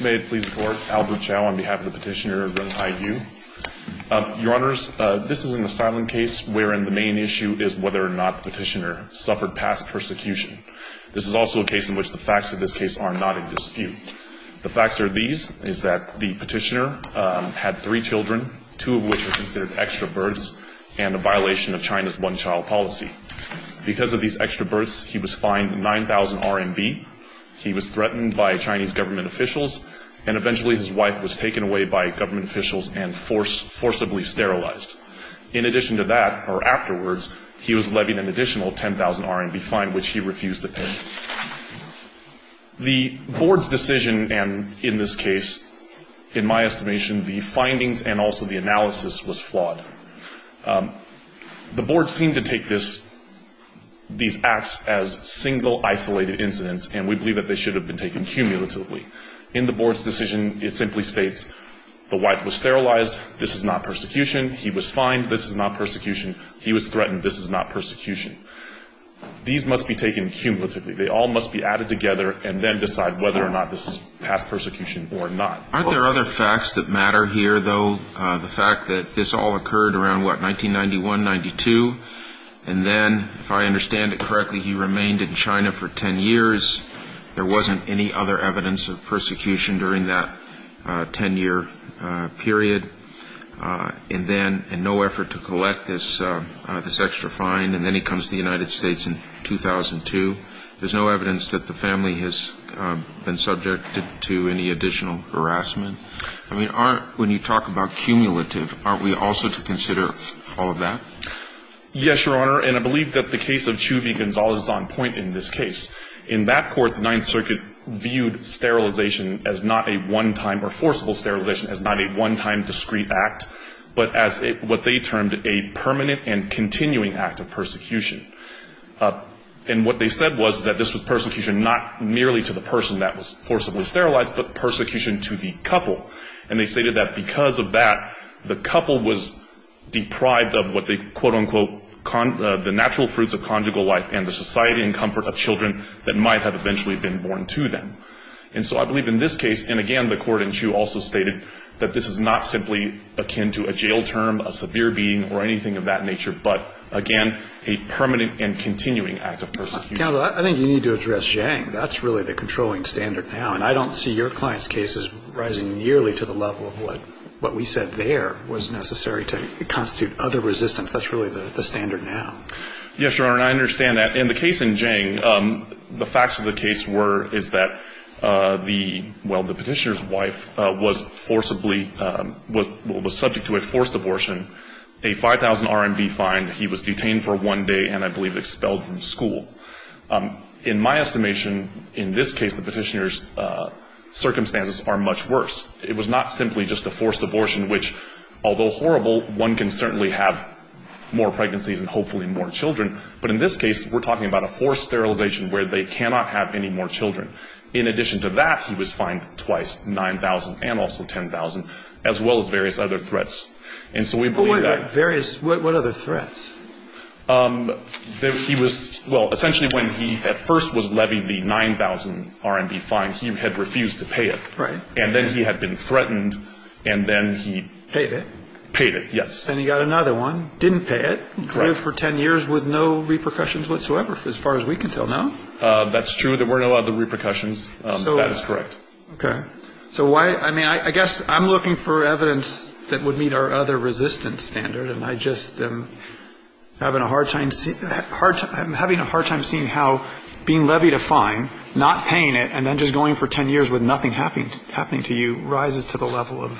May it please the Court, Albert Chow on behalf of the petitioner, Renghai Yu. Your Honors, this is an asylum case wherein the main issue is whether or not the petitioner suffered past persecution. This is also a case in which the facts of this case are not in dispute. The facts are these, is that the petitioner had three children, two of which were considered extra births, and a violation of China's one-child policy. Because of these extra births, he was fined 9,000 RMB, he was threatened by Chinese government officials, and eventually his wife was taken away by government officials and forcibly sterilized. In addition to that, or afterwards, he was levied an additional 10,000 RMB fine, which he refused to pay. The Board's decision, and in this case, in my estimation, the findings and also the analysis was flawed. The Board seemed to take these acts as single, isolated incidents, and we believe that they should have been taken cumulatively. In the Board's decision, it simply states the wife was sterilized, this is not persecution, he was fined, this is not persecution, he was threatened, this is not persecution. These must be taken cumulatively. They all must be added together and then decide whether or not this is past persecution or not. Aren't there other facts that matter here, though? The fact that this all occurred around, what, 1991, 92? And then, if I understand it correctly, he remained in China for 10 years. There wasn't any other evidence of persecution during that 10-year period. And then, in no effort to collect this extra fine, and then he comes to the United States in 2002. There's no evidence that the family has been subjected to any additional harassment. I mean, aren't, when you talk about cumulative, aren't we also to consider all of that? Yes, Your Honor, and I believe that the case of Chiu v. Gonzales is on point in this case. In that court, the Ninth Circuit viewed sterilization as not a one-time or forcible sterilization as not a one-time discrete act, but as what they termed a permanent and continuing act of persecution. And what they said was that this was persecution not merely to the person that was forcibly sterilized, but persecution to the couple. And they stated that because of that, the couple was deprived of what they, quote, unquote, the natural fruits of conjugal life and the society and comfort of children that might have eventually been born to them. And so I believe in this case, and, again, the court in Chiu also stated that this is not simply akin to a jail term, a severe beating, or anything of that nature, but, again, a permanent and continuing act of persecution. Counsel, I think you need to address Zhang. That's really the controlling standard now. And I don't see your client's case as rising nearly to the level of what we said there was necessary to constitute other resistance. That's really the standard now. Yes, Your Honor, and I understand that. In the case in Zhang, the facts of the case were, is that the, well, the petitioner's wife was forcibly, was subject to a forced abortion, a 5,000 RMB fine. He was detained for one day and I believe expelled from school. In my estimation, in this case, the petitioner's circumstances are much worse. It was not simply just a forced abortion, which, although horrible, one can certainly have more pregnancies and hopefully more children, but in this case, we're talking about a forced sterilization where they cannot have any more children. In addition to that, he was fined twice, 9,000 and also 10,000, as well as various other threats. And so we believe that. Various, what other threats? He was, well, essentially when he at first was levying the 9,000 RMB fine, he had refused to pay it. Right. And then he had been threatened and then he. Paid it. Paid it, yes. Then he got another one, didn't pay it, lived for 10 years with no repercussions whatsoever as far as we can tell now. That's true. There were no other repercussions. So. That is correct. Okay. So why, I mean, I guess I'm looking for evidence that would meet our other resistance standard and I just am having a hard time seeing how being levied a fine, not paying it, and then just going for 10 years with nothing happening to you, rises to the level of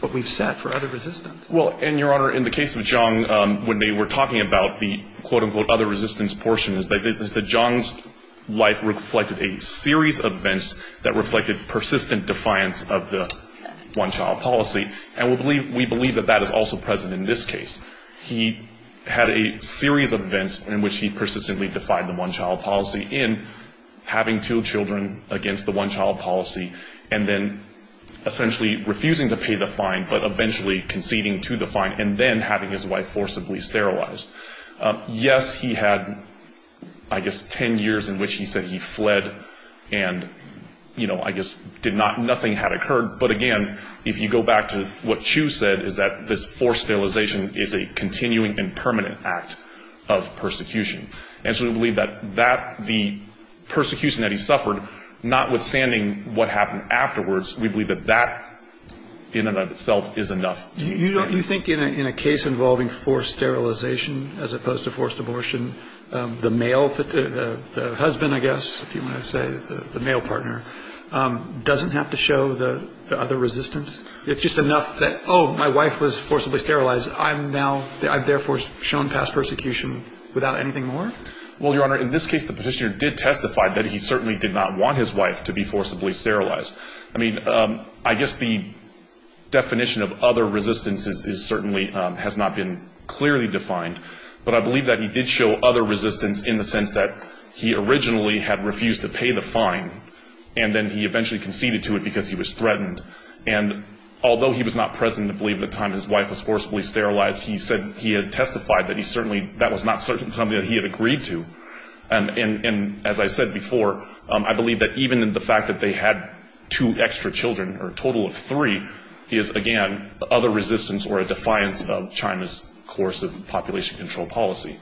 what we've set for other resistance. Well, and, Your Honor, in the case of Zhang, when they were talking about the, quote, unquote, other resistance portion is that Zhang's life reflected a series of events that reflected persistent defiance of the one-child policy. And we believe that that is also present in this case. He had a series of events in which he persistently defied the one-child policy in having two children against the one-child policy and then essentially refusing to pay the fine but eventually conceding to the fine and then having his wife forcibly sterilized. Yes, he had, I guess, 10 years in which he said he fled and, you know, I guess did not, nothing had occurred. But, again, if you go back to what Chu said is that this forced sterilization is a continuing and permanent act of persecution. And so we believe that that, the persecution that he suffered, notwithstanding what happened afterwards, we believe that that in and of itself is enough. You think in a case involving forced sterilization as opposed to forced abortion, the male, the husband, I guess, if you want to say, the male partner doesn't have to show the other resistance? It's just enough that, oh, my wife was forcibly sterilized. I've therefore shown past persecution without anything more? Well, Your Honor, in this case the petitioner did testify that he certainly did not want his wife to be forcibly sterilized. I mean, I guess the definition of other resistance certainly has not been clearly defined. But I believe that he did show other resistance in the sense that he originally had refused to pay the fine and then he eventually conceded to it because he was threatened. And although he was not present, I believe, at the time his wife was forcibly sterilized, he said he had testified that he certainly, that was not something that he had agreed to. And as I said before, I believe that even in the fact that they had two extra children, or a total of three, is, again, other resistance or a defiance of China's course of population control policy.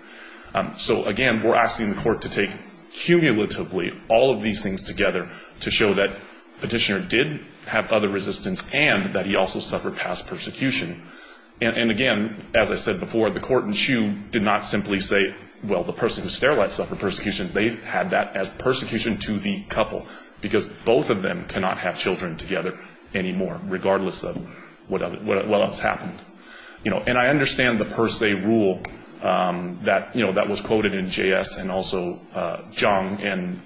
So, again, we're asking the court to take cumulatively all of these things together to show that the petitioner did have other resistance and that he also suffered past persecution. And, again, as I said before, the court in Hsu did not simply say, well, the person who sterilized suffered persecution. They had that as persecution to the couple because both of them cannot have children together anymore, regardless of what else happened. And I understand the per se rule that was quoted in JS and also Zhang. And,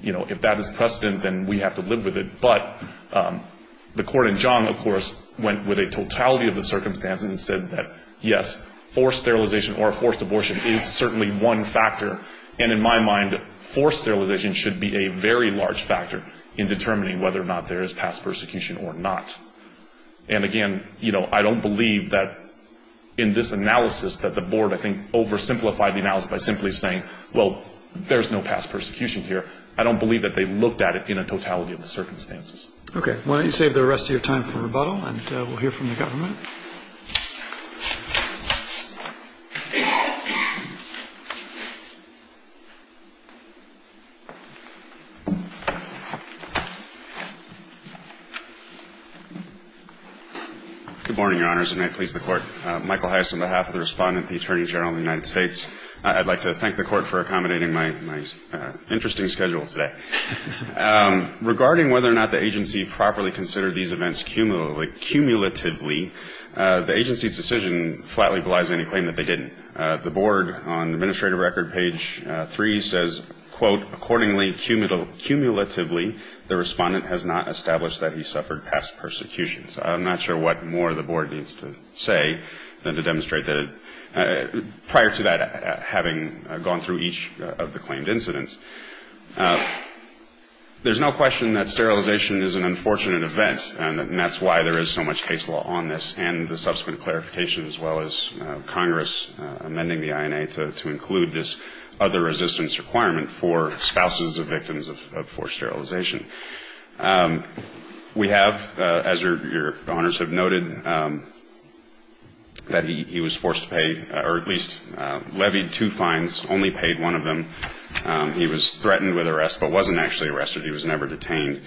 you know, if that is precedent, then we have to live with it. But the court in Zhang, of course, went with a totality of the circumstances and said that, yes, forced sterilization or forced abortion is certainly one factor. And in my mind, forced sterilization should be a very large factor in determining whether or not there is past persecution or not. And, again, you know, I don't believe that in this analysis that the board, I think, oversimplified the analysis by simply saying, well, there is no past persecution here. I don't believe that they looked at it in a totality of the circumstances. Okay. Why don't you save the rest of your time for rebuttal, and we'll hear from the government. Good morning, Your Honors, and may it please the Court. Michael Hyass on behalf of the Respondent, the Attorney General of the United States. I'd like to thank the Court for accommodating my interesting schedule today. Regarding whether or not the agency properly considered these events cumulatively, the agency's decision flatly belies any claim that they didn't. The board on Administrative Record Page 3 says, quote, accordingly cumulatively the Respondent has not established that he suffered past persecutions. I'm not sure what more the board needs to say than to demonstrate that prior to that having gone through each of the claimed incidents. There's no question that sterilization is an unfortunate event, and that's why there is so much case law on this and the subsequent clarification, as well as Congress amending the INA to include this other resistance requirement for spouses of victims of forced sterilization. We have, as Your Honors have noted, that he was forced to pay or at least levied two fines, only paid one of them. He was threatened with arrest but wasn't actually arrested. He was never detained.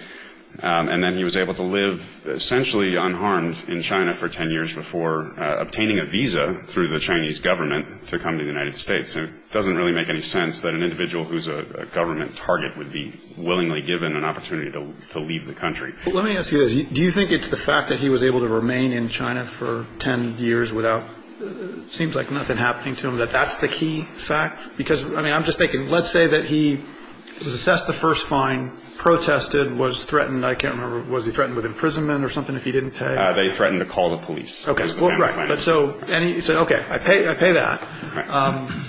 And then he was able to live essentially unharmed in China for 10 years before obtaining a visa through the Chinese government to come to the United States. It doesn't really make any sense that an individual who's a government target would be willingly given an opportunity to leave the country. Let me ask you this. Do you think it's the fact that he was able to remain in China for 10 years without it seems like nothing happening to him, that that's the key fact? Because, I mean, I'm just thinking, let's say that he was assessed the first fine, protested, was threatened. I can't remember, was he threatened with imprisonment or something if he didn't pay? They threatened to call the police. Okay. Well, right. And he said, okay, I pay that.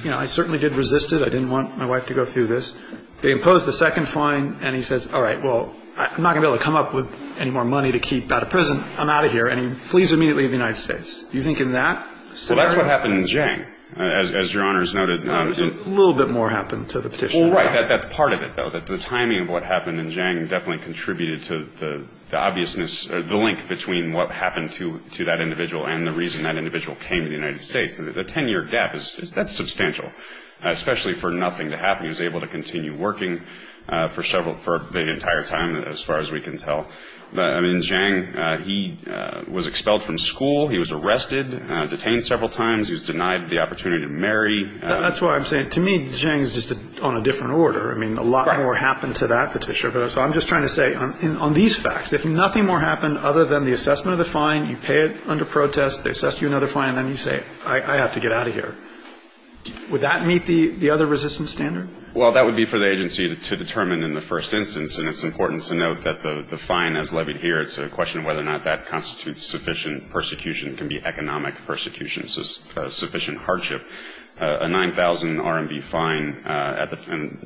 You know, I certainly did resist it. I didn't want my wife to go through this. They imposed the second fine, and he says, all right, well, I'm not going to be able to come up with any more money to keep out of prison. I'm out of here. And he flees immediately to the United States. Do you think in that? Well, that's what happened in Jiang, as Your Honors noted. A little bit more happened to the petitioner. Well, right. That's part of it, though. The timing of what happened in Jiang definitely contributed to the obviousness or the link between what happened to that individual and the reason that individual came to the United States. The 10-year gap, that's substantial, especially for nothing to happen. He was able to continue working for the entire time, as far as we can tell. I mean, in Jiang, he was expelled from school. He was arrested, detained several times. He was denied the opportunity to marry. That's why I'm saying, to me, Jiang is just on a different order. I mean, a lot more happened to that petitioner. So I'm just trying to say, on these facts, if nothing more happened other than the assessment of the fine, you pay it under protest, they assess you another fine, and then you say, I have to get out of here, would that meet the other resistance standard? Well, that would be for the agency to determine in the first instance, and it's important to note that the fine as levied here, it's a question of whether or not that constitutes sufficient persecution. It can be economic persecution, sufficient hardship. A 9,000 RMB fine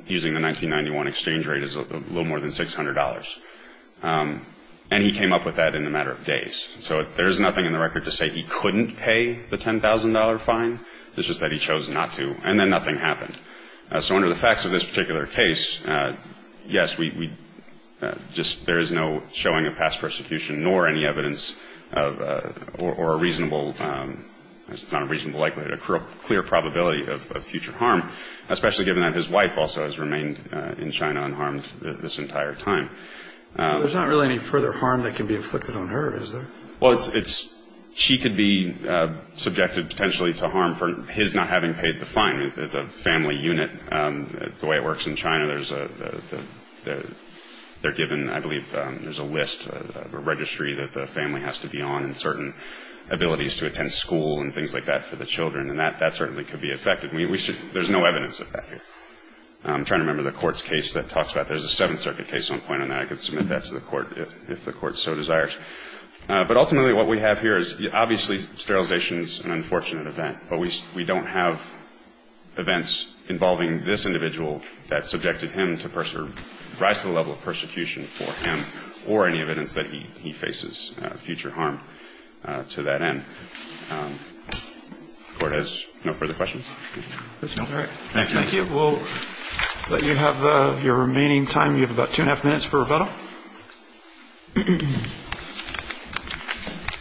using the 1991 exchange rate is a little more than $600. And he came up with that in a matter of days. So there's nothing in the record to say he couldn't pay the $10,000 fine. It's just that he chose not to, and then nothing happened. So under the facts of this particular case, yes, we just – there is no showing of past persecution, nor any evidence of – or a reasonable – it's not a reasonable likelihood, a clear probability of future harm, especially given that his wife also has remained in China unharmed this entire time. There's not really any further harm that can be inflicted on her, is there? Well, it's – she could be subjected potentially to harm for his not having paid the fine. I mean, there's a family unit. The way it works in China, there's a – they're given, I believe, there's a list of a registry that the family has to be on and certain abilities to attend school and things like that for the children, and that certainly could be affected. There's no evidence of that here. I'm trying to remember the court's case that talks about that. There's a Seventh Circuit case on point on that. I could submit that to the court if the court so desires. But ultimately what we have here is obviously sterilization is an unfortunate event, but we don't have events involving this individual that subjected him to – rise to the level of persecution for him or any evidence that he faces future harm to that end. The court has no further questions? There's none. All right. Thank you. Thank you. We'll let you have your remaining time. You have about two and a half minutes for rebuttal.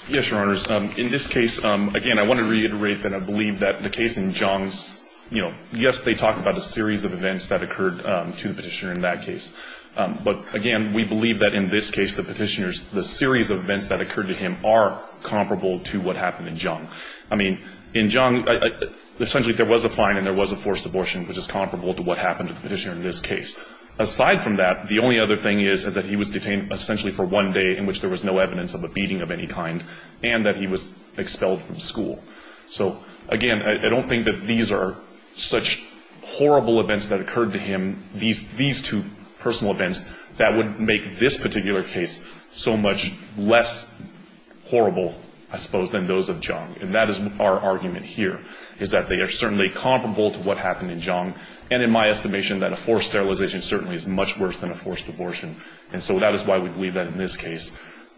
Yes, Your Honors. In this case, again, I want to reiterate that I believe that the case in Zhang's – you know, yes, they talk about a series of events that occurred to the Petitioner in that case. But, again, we believe that in this case the Petitioner's – the series of events that occurred to him are comparable to what happened in Zhang. I mean, in Zhang, essentially there was a fine and there was a forced abortion, which is comparable to what happened to the Petitioner in this case. Aside from that, the only other thing is is that he was detained essentially for one day in which there was no evidence of a beating of any kind and that he was expelled from school. So, again, I don't think that these are such horrible events that occurred to him, these two personal events, that would make this particular case so much less horrible, I suppose, than those of Zhang. And that is our argument here is that they are certainly comparable to what happened in Zhang. And in my estimation that a forced sterilization certainly is much worse than a forced abortion. And so that is why we believe that in this case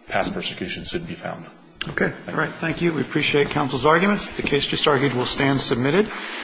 past persecution should be found. Okay. All right. Thank you. We appreciate counsel's arguments. The case just argued will stand submitted.